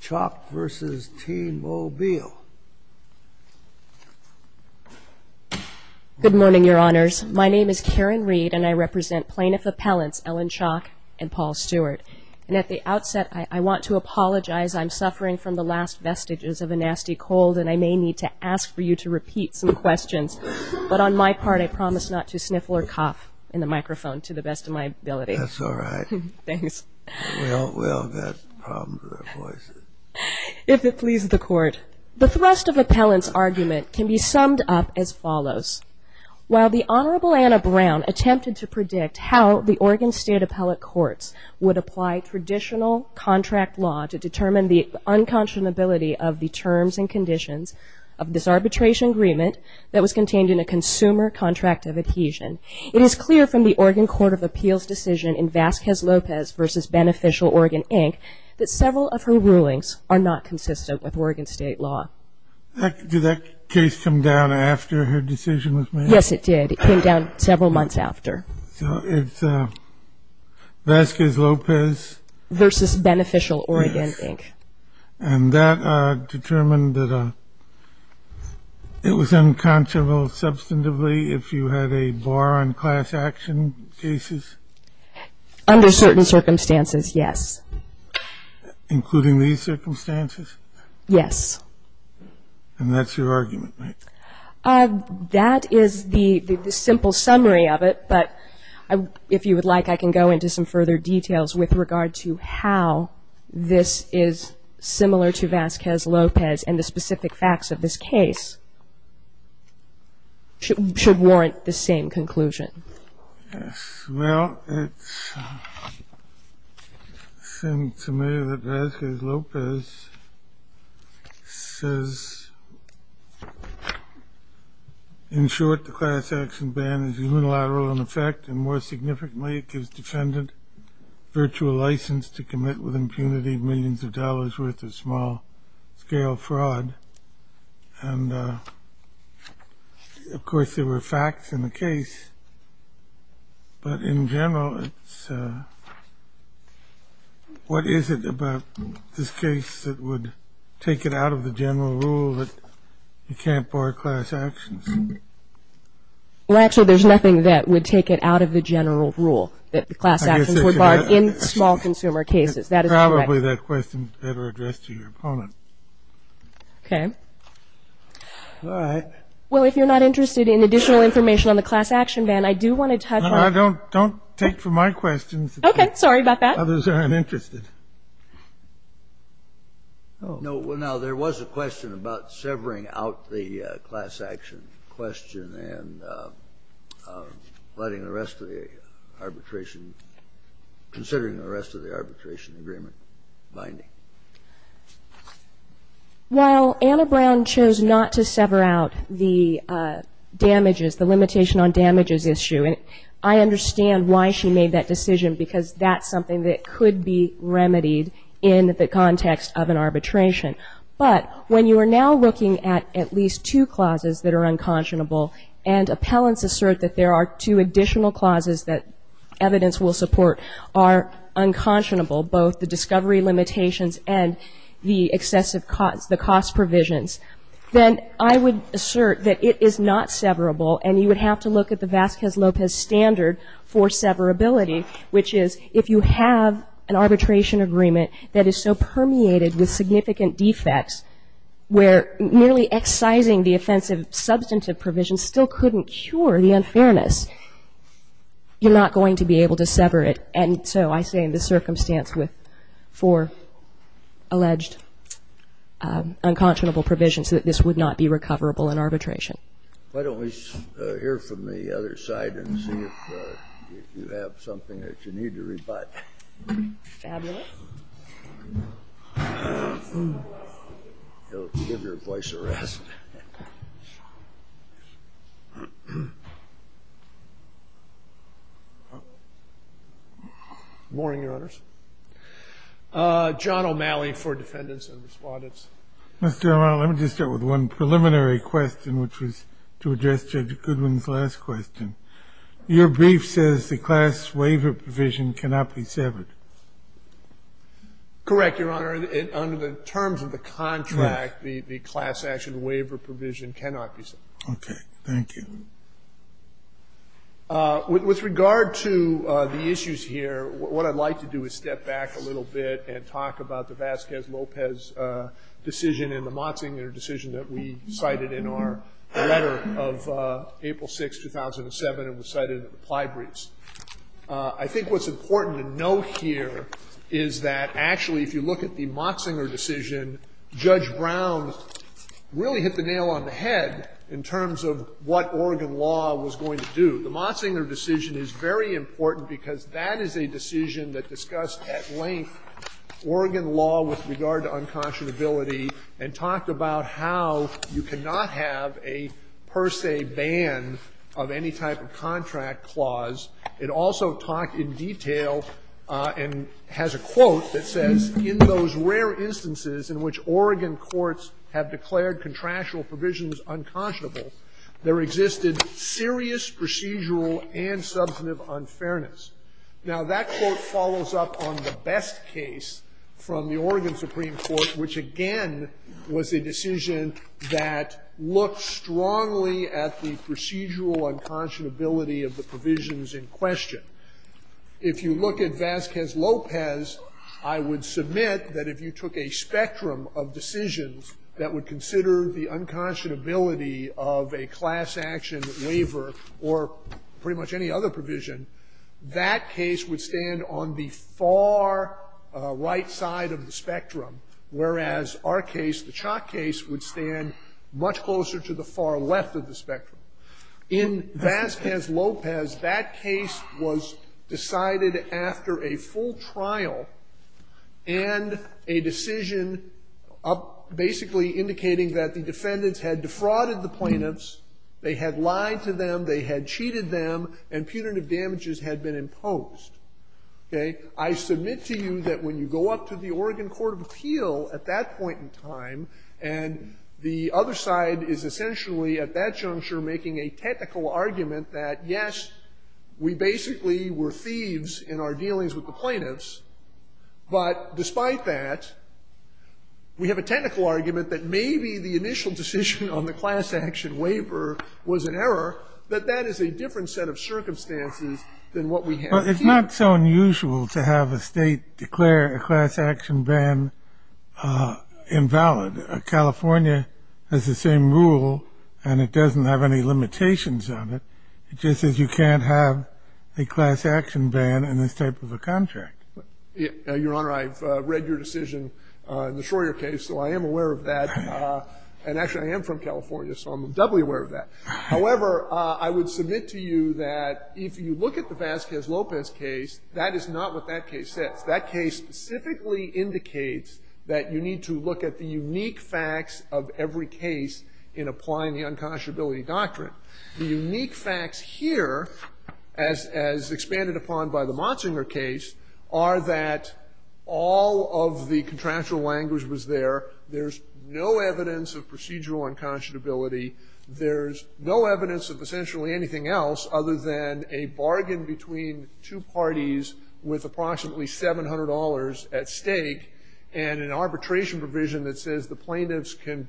Chalk v. T-Mobile Good morning, Your Honors. My name is Karen Reed, and I represent Plaintiff Appellants Ellen Chalk and Paul Stewart. And at the outset, I want to apologize. I'm suffering from the last vestiges of a nasty cold, and I may need to ask for you to repeat some questions. But on my part, I promise not to sniffle or cough in the microphone to the best of my ability. That's all right. Thanks. We all have problems with our voices. If it pleases the Court, the thrust of appellants' argument can be summed up as follows. While the Honorable Anna Brown attempted to predict how the Oregon State Appellate Courts would apply traditional contract law to determine the unconscionability of the terms and conditions of this arbitration agreement that was contained in a consumer contract of adhesion, it is clear from the Oregon Court of Appeals decision in Vasquez-Lopez v. Beneficial Oregon, Inc. that several of her rulings are not consistent with Oregon State law. Did that case come down after her decision was made? Yes, it did. It came down several months after. So it's Vasquez-Lopez v. Beneficial Oregon, Inc. And that determined that it was unconscionable substantively if you had a bar on class action cases? Under certain circumstances, yes. Including these circumstances? Yes. And that's your argument, right? That is the simple summary of it. But if you would like, I can go into some further details with regard to how this is similar to Vasquez-Lopez and the specific facts of this case should warrant the same conclusion. Well, it's the same summary that Vasquez-Lopez says. In short, the class action ban is unilateral in effect, and more significantly, it gives defendant virtual license to commit with impunity millions of dollars worth of small-scale fraud. And, of course, there were facts in the case. But in general, what is it about this case that would take it out of the general rule that you can't bar class actions? Well, actually, there's nothing that would take it out of the general rule, that the class actions were barred in small-consumer cases. That is correct. Probably that question is better addressed to your opponent. Okay. All right. Well, if you're not interested in additional information on the class action ban, I do want to touch on the question. Don't take from my questions. Okay. Sorry about that. Others are uninterested. No. Well, now, there was a question about severing out the class action question and letting the rest of the arbitration, considering the rest of the arbitration agreement binding. While Anna Brown chose not to sever out the damages, the limitation on damages issue, I understand why she made that decision, because that's something that could be remedied in the context of an arbitration. But when you are now looking at at least two clauses that are unconscionable and appellants assert that there are two additional clauses that evidence will support are unconscionable, both the discovery limitations and the excessive cost, the cost provisions, then I would assert that it is not severable. And you would have to look at the Vasquez-Lopez standard for severability, which is if you have an arbitration agreement that is so permeated with significant defects where merely excising the offensive substantive provisions still couldn't cure the unfairness, you're not going to be able to sever it. And so I say in this circumstance with four alleged unconscionable provisions that this would not be recoverable in arbitration. Why don't we hear from the other side and see if you have something that you need to rebut? Fabulous. Give your voice a rest. Morning, Your Honors. John O'Malley for Defendants and Respondents. Mr. O'Malley, let me just start with one preliminary question, which was to address Judge Goodwin's last question. Your brief says the class waiver provision cannot be severed. Correct, Your Honor. Under the terms of the contract, the class action waiver provision cannot be severed. Okay. Thank you. With regard to the issues here, what I'd like to do is step back a little bit and talk about the Vasquez-Lopez decision and the Motzinger decision that we cited in our letter of April 6, 2007, and was cited in the reply briefs. I think what's important to note here is that, actually, if you look at the Motzinger decision, Judge Brown really hit the nail on the head in terms of what Oregon law was going to do. The Motzinger decision is very important because that is a decision that discussed at length Oregon law with regard to unconscionability and talked about how you cannot have a per se ban of any type of contract clause. It also talked in detail and has a quote that says, in those rare instances in which Oregon courts have declared contractual provisions unconscionable, there existed serious procedural and substantive unfairness. Now, that quote follows up on the best case from the Oregon Supreme Court, which, again, was a decision that looked strongly at the procedural unconscionability of the provisions in question. If you look at Vasquez-Lopez, I would submit that if you took a spectrum of decisions that would consider the unconscionability of a class action waiver or pretty much any other provision, that case would stand on the far right side of the spectrum, whereas our case, the Chock case, would stand much closer to the far left of the spectrum. In Vasquez-Lopez, that case was decided after a full trial and a decision basically indicating that the defendants had defrauded the plaintiffs, they had lied to them, they had cheated them, and punitive damages had been imposed. Okay? I submit to you that when you go up to the Oregon court of appeal at that point in time, and the other side is essentially at that juncture making a technical argument that, yes, we basically were thieves in our dealings with the plaintiffs, but despite that, we have a technical argument that maybe the initial decision on the class action waiver was an error, that that is a different set of circumstances than what we have here. Well, it's not so unusual to have a State declare a class action ban invalid. California has the same rule, and it doesn't have any limitations on it. It just says you can't have a class action ban in this type of a contract. Your Honor, I've read your decision in the Schroer case, so I am aware of that. And actually, I am from California, so I'm doubly aware of that. However, I would submit to you that if you look at the Vasquez-Lopez case, that is not what that case says. That case specifically indicates that you need to look at the unique facts of every case in applying the unconscionability doctrine. The unique facts here, as expanded upon by the Monsinger case, are that all of the contractual language was there. There's no evidence of procedural unconscionability. There's no evidence of essentially anything else other than a bargain between two parties with approximately $700 at stake and an arbitration provision that says the plaintiffs can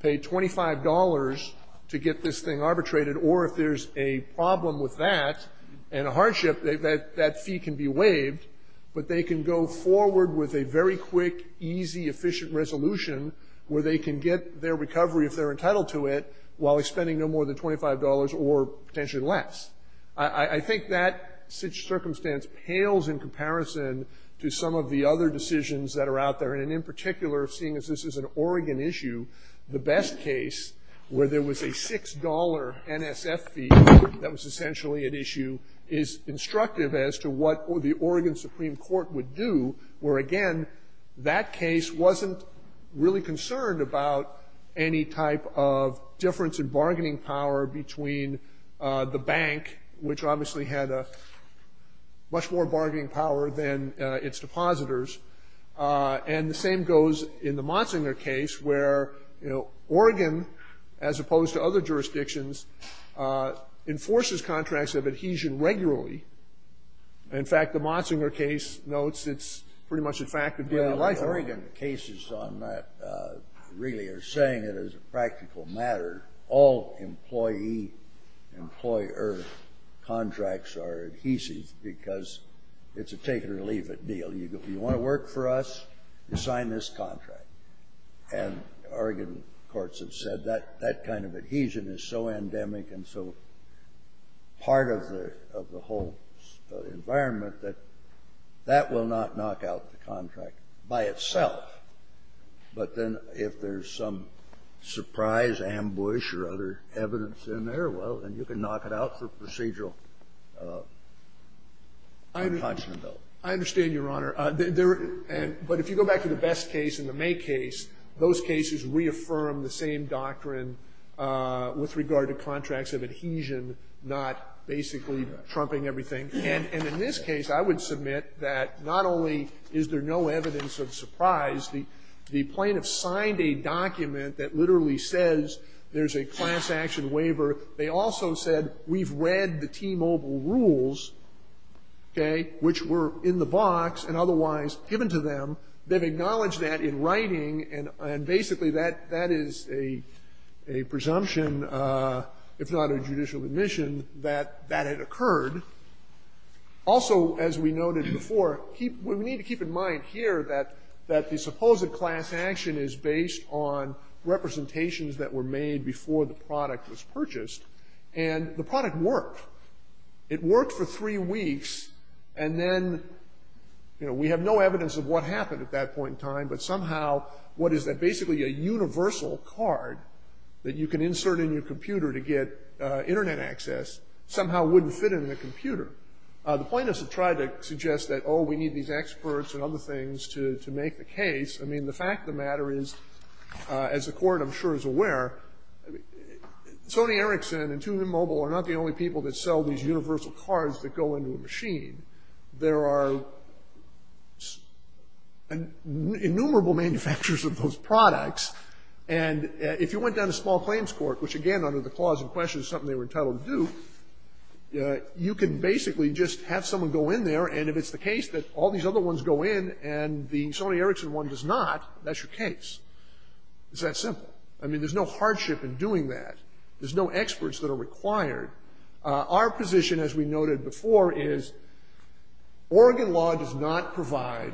pay $25 to get this thing arbitrated, or if there's a problem with that and a hardship, that fee can be waived, but they can go forward with a very quick, easy, efficient resolution where they can get their recovery if they're entitled to it while expending no more than $25 or potentially less. I think that circumstance pales in comparison to some of the other decisions that are out there, and in particular, seeing as this is an Oregon issue, the best case where there was a $6 NSF fee that was essentially at issue is instructive as to what the Oregon Supreme Court would do, where, again, that case wasn't really concerned about any type of difference in bargaining power between the bank, which obviously had a much more bargaining power than its depositors, and the same goes in the Monsinger case, where Oregon, as opposed to other jurisdictions, enforces contracts of adhesion regularly. In fact, the Monsinger case notes it's pretty much, in fact, a deal of life. Oregon cases on that really are saying it as a practical matter. All employee-employer contracts are adhesive because it's a take-it-or-leave-it deal. You want to work for us, you sign this contract, and Oregon courts have said that that kind of adhesion is so endemic and so part of the whole environment that that will not knock out the contract by itself. But then if there's some surprise ambush or other evidence in there, well, then you can knock it out through procedural contention, though. I understand, Your Honor. But if you go back to the Best case and the May case, those cases reaffirm the same doctrine with regard to contracts of adhesion, not basically trumping everything. And in this case, I would submit that not only is there no evidence of surprise, the plaintiff signed a document that literally says there's a class action waiver. They also said we've read the T-Mobile rules, okay, which were in the box and otherwise given to them. They've acknowledged that in writing, and basically that is a presumption, if not a judicial admission, that that had occurred. Also, as we noted before, we need to keep in mind here that the supposed class action is based on representations that were made before the product was purchased. And the product worked. It worked for three weeks, and then, you know, we have no evidence of what happened at that point in time. But somehow, what is that basically a universal card that you can insert in your computer to get Internet access somehow wouldn't fit in the computer. The plaintiffs have tried to suggest that, oh, we need these experts and other things to make the case. I mean, the fact of the matter is, as the Court, I'm sure, is aware, Sony Ericsson and TuneMobile are not the only people that sell these universal cards that go into a machine. There are innumerable manufacturers of those products. And if you went down to small claims court, which, again, under the clause in question is something they were entitled to do, you can basically just have someone go in there. And if it's the case that all these other ones go in and the Sony Ericsson one does not, that's your case. It's that simple. I mean, there's no hardship in doing that. There's no experts that are required. Our position, as we noted before, is Oregon law does not provide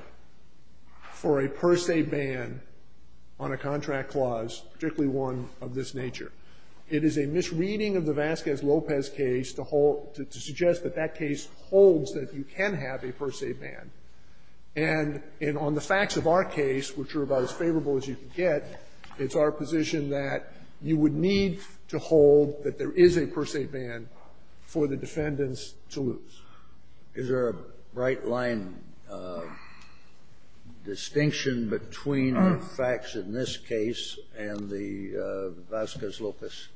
for a per se ban on a contract clause, particularly one of this nature. It is a misreading of the Vasquez-Lopez case to suggest that that case holds that you can have a per se ban. And on the facts of our case, which are about as favorable as you can get, it's our position that you would need to hold that there is a per se ban for the defendants to lose. Is there a bright line distinction between the facts in this case and the Vasquez-Lopez?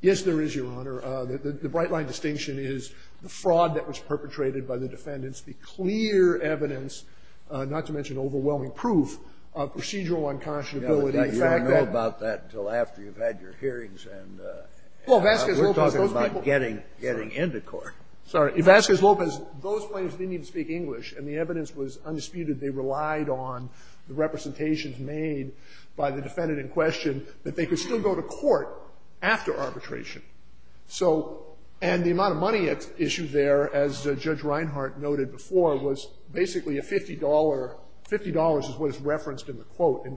Yes, there is, Your Honor. The bright line distinction is the fraud that was perpetrated by the defendants, the clear evidence, not to mention overwhelming proof of procedural unconscionability. You don't know about that until after you've had your hearings and we're talking about getting into court. Sorry. Vasquez-Lopez, those plaintiffs didn't even speak English, and the evidence was undisputed. They relied on the representations made by the defendant in question that they could still go to court after arbitration. So, and the amount of money at issue there, as Judge Reinhart noted before, was basically a $50.00. $50.00 is what is referenced in the quote in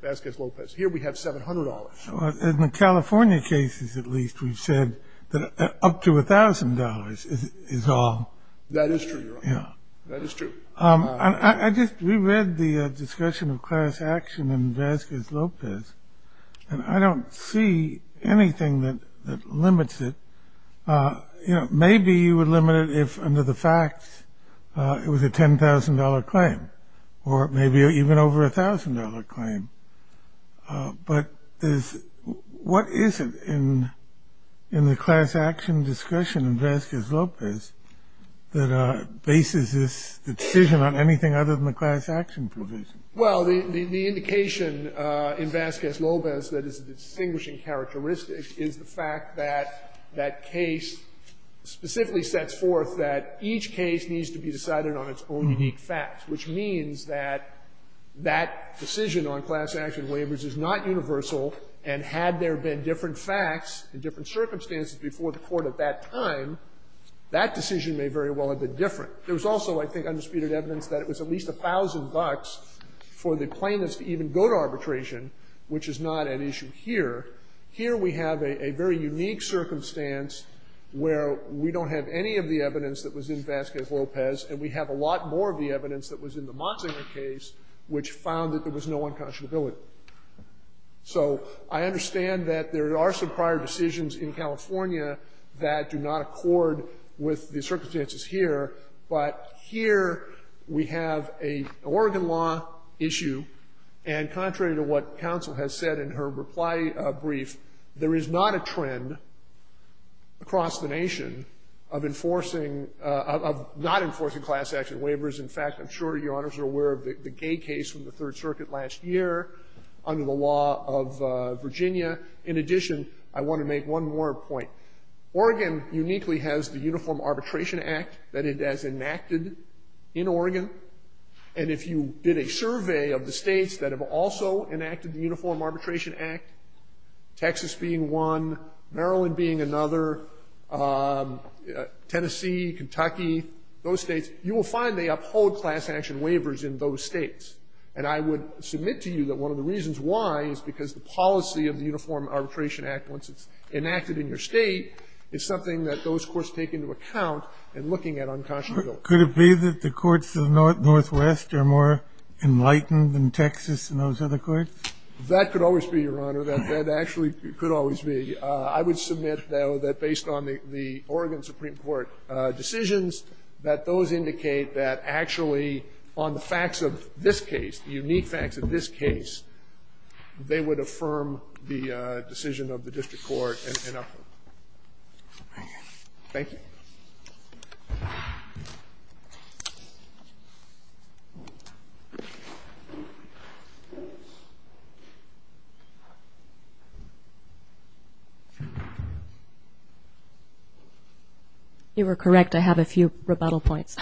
Vasquez-Lopez. Here we have $700.00. In the California cases, at least, we've said that up to $1,000.00 is all. That is true, Your Honor. Yeah. That is true. I just reread the discussion of class action in Vasquez-Lopez, and I don't see anything that limits it. Maybe you would limit it if, under the facts, it was a $10,000.00 claim, or maybe even over a $1,000.00 claim. But what is it in the class action discussion in Vasquez-Lopez that bases the decision on anything other than the class action provision? Well, the indication in Vasquez-Lopez that is a distinguishing characteristic is the fact that that case specifically sets forth that each case needs to be decided on its own unique facts, which means that that decision on class action waivers is not universal. And had there been different facts and different circumstances before the Court at that time, that decision may very well have been different. There was also, I think, undisputed evidence that it was at least $1,000.00 for the plaintiffs to even go to arbitration, which is not at issue here. Here we have a very unique circumstance where we don't have any of the evidence that was in Vasquez-Lopez, and we have a lot more of the evidence that was in the Monsinger case, which found that there was no unconscionability. So I understand that there are some prior decisions in California that do not accord with the circumstances here, but here we have an Oregon law issue, and contrary to what counsel has said in her reply brief, there is not a trend across the nation of enforcing of not enforcing class action waivers. In fact, I'm sure Your Honors are aware of the Gay case from the Third Circuit last year under the law of Virginia. In addition, I want to make one more point. Oregon uniquely has the Uniform Arbitration Act that it has enacted in Oregon. And if you did a survey of the states that have also enacted the Uniform Arbitration Act, Texas being one, Maryland being another, Tennessee, Kentucky, those states, you will find they uphold class action waivers in those states. And I would submit to you that one of the reasons why is because the policy of the Uniform Arbitration Act, once it's enacted in your state, is something that those courts take into account in looking at unconscionability. Could it be that the courts of the Northwest are more enlightened than Texas and those other courts? That could always be, Your Honor. That actually could always be. I would submit, though, that based on the Oregon Supreme Court decisions, that those indicate that actually on the facts of this case, the unique facts of this case, they would affirm the decision of the district court and uphold. Thank you. Thank you. You were correct. I have a few rebuttal points.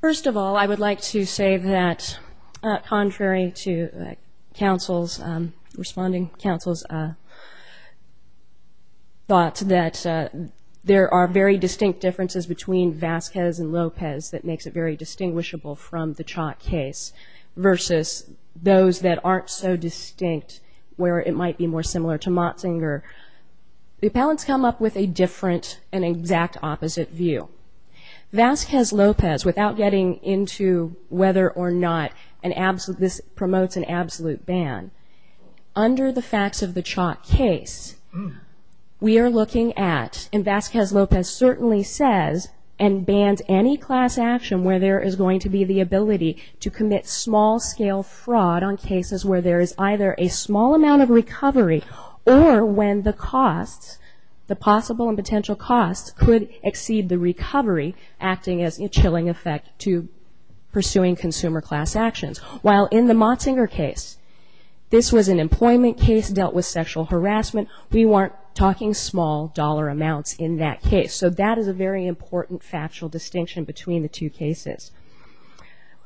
First of all, I would like to say that contrary to counsel's, responding that there are very distinct differences between Vasquez and Lopez that makes it very distinguishable from the Chalk case versus those that aren't so distinct where it might be more similar to Motzinger, the appellants come up with a different and exact opposite view. Vasquez-Lopez, without getting into whether or not this promotes an absolute ban, under the facts of the Chalk case, we are looking at, and Vasquez-Lopez certainly says and bans any class action where there is going to be the ability to commit small-scale fraud on cases where there is either a small amount of recovery or when the costs, the possible and potential costs could exceed the recovery, acting as a chilling effect to pursuing consumer class actions. While in the Motzinger case, this was an employment case dealt with sexual harassment, we weren't talking small dollar amounts in that case. So that is a very important factual distinction between the two cases.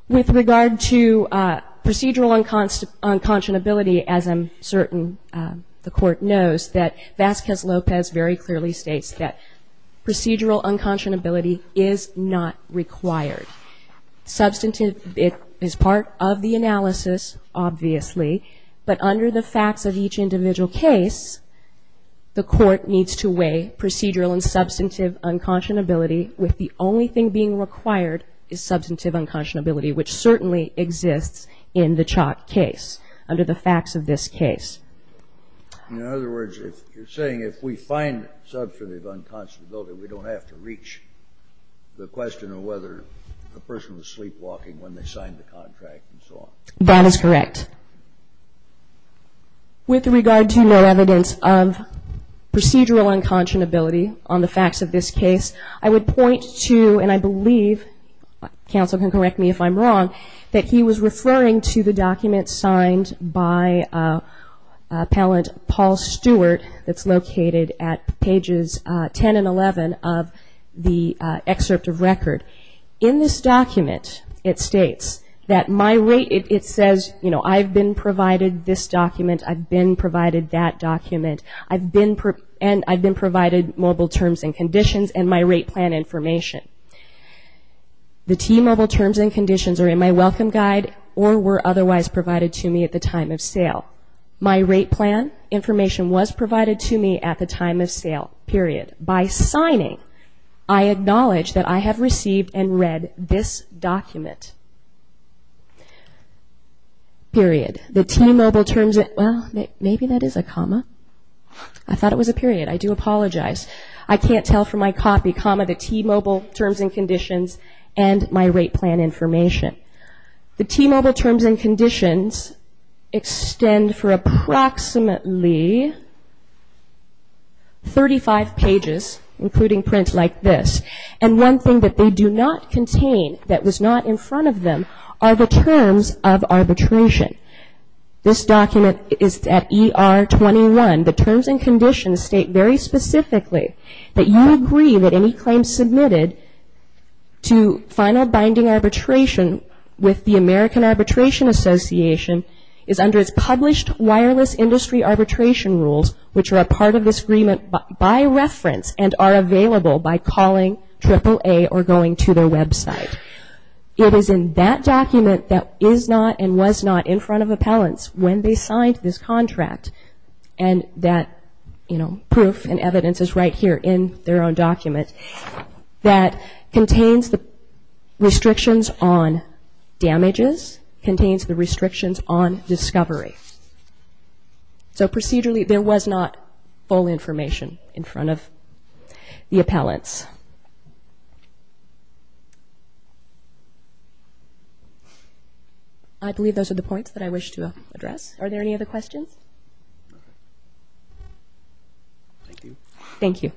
With regard to procedural unconscionability, as I'm certain the Court knows, that Vasquez-Lopez very clearly states that procedural unconscionability is not required. Substantive, it is part of the analysis, obviously, but under the facts of each individual case, the Court needs to weigh procedural and substantive unconscionability with the only thing being required is substantive unconscionability, which certainly exists in the Chalk case under the facts of this case. In other words, you're saying if we find substantive unconscionability, we don't have to reach the question of whether a person was sleepwalking when they signed the contract and so on. That is correct. With regard to no evidence of procedural unconscionability on the facts of this case, I would point to, and I believe, counsel can correct me if I'm wrong, that he was referring to the document signed by Appellant Paul Stewart that's located at pages 10 and 11 of the excerpt of record. In this document, it states that my rate, it says, you know, I've been provided this document, I've been provided that document, and I've been provided mobile terms and conditions and my rate plan information. The T, mobile terms and conditions, are in my welcome guide or were otherwise provided to me at the time of sale. Now, my rate plan information was provided to me at the time of sale, period. By signing, I acknowledge that I have received and read this document, period. The T, mobile terms and, well, maybe that is a comma. I thought it was a period. I do apologize. I can't tell from my copy, comma, the T, mobile terms and conditions and my rate plan information. The T, mobile terms and conditions extend for approximately 35 pages, including print like this, and one thing that they do not contain that was not in front of them are the terms of arbitration. This document is at ER 21. The terms and conditions state very specifically that you agree that any claim submitted to final binding arbitration with the American Arbitration Association is under its published wireless industry arbitration rules, which are a part of this agreement by reference and are available by calling AAA or going to their website. It is in that document that is not and was not in front of appellants when they signed this contract, and that proof and evidence is right here in their own document that contains the restrictions on damages, contains the restrictions on discovery. So procedurally there was not full information in front of the appellants. I believe those are the points that I wish to address. Are there any other questions? All right. Thank you. Thank you.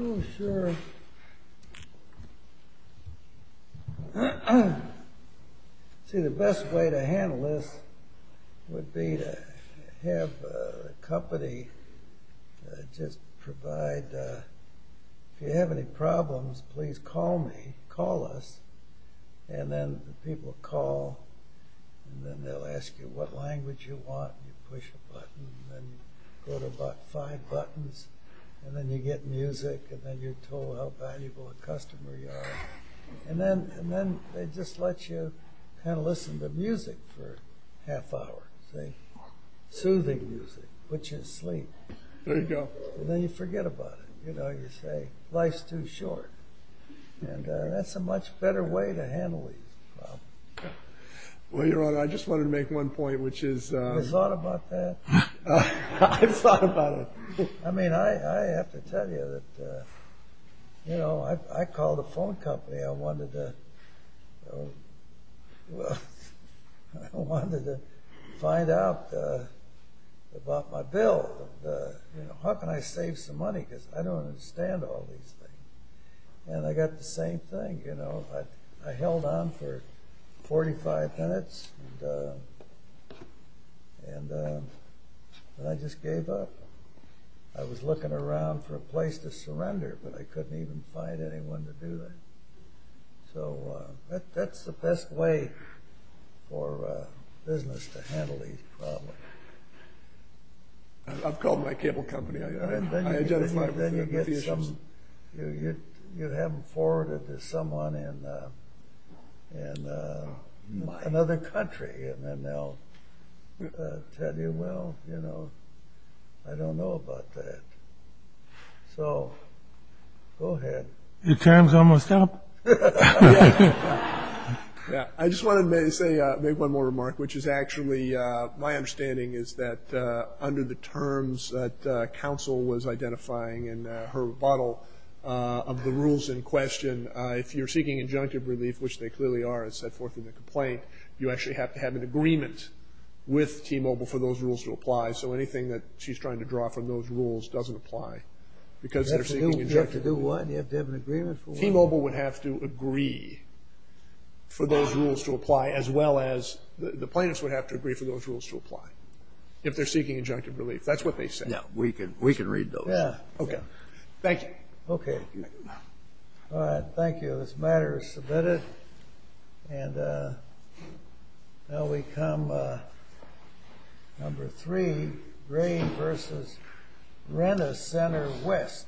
Oh, sure. See, the best way to handle this would be to have the company just provide if you have any problems, please call me, call us, and then people call and then they'll ask you what language you want, and you push a button, and then you go to about five buttons, and then you get music, and then you're told how valuable a customer you are. And then they just let you kind of listen to music for a half hour, see, soothing music, put you to sleep. There you go. And then you forget about it. You know, you say, life's too short. And that's a much better way to handle these problems. Well, you're right. I just wanted to make one point, which is... Have you thought about that? I've thought about it. I mean, I have to tell you that, you know, I called a phone company. I wanted to find out about my bill. How can I save some money because I don't understand all these things. And I got the same thing, you know. I held on for 45 minutes, and I just gave up. I was looking around for a place to surrender, but I couldn't even find anyone to do that. So that's the best way for business to handle these problems. I've called my cable company. I identify with the issues. And then you have them forwarded to someone in another country, and then they'll tell you, well, you know, I don't know about that. So go ahead. Your time's almost up. Yeah. I just wanted to make one more remark, which is actually, my understanding is that under the terms that counsel was identifying in her rebuttal of the rules in question, if you're seeking injunctive relief, which they clearly are, as set forth in the complaint, you actually have to have an agreement with T-Mobile for those rules to apply. So anything that she's trying to draw from those rules doesn't apply. You have to do what? You have to have an agreement for what? T-Mobile would have to agree for those rules to apply, as well as the plaintiffs would have to agree for those rules to apply if they're seeking injunctive relief. That's what they said. Yeah. We can read those. Yeah. Okay. Thank you. Okay. All right. Thank you. This matter is submitted. And now we come to number three, Gray v. Rent-A-Center West.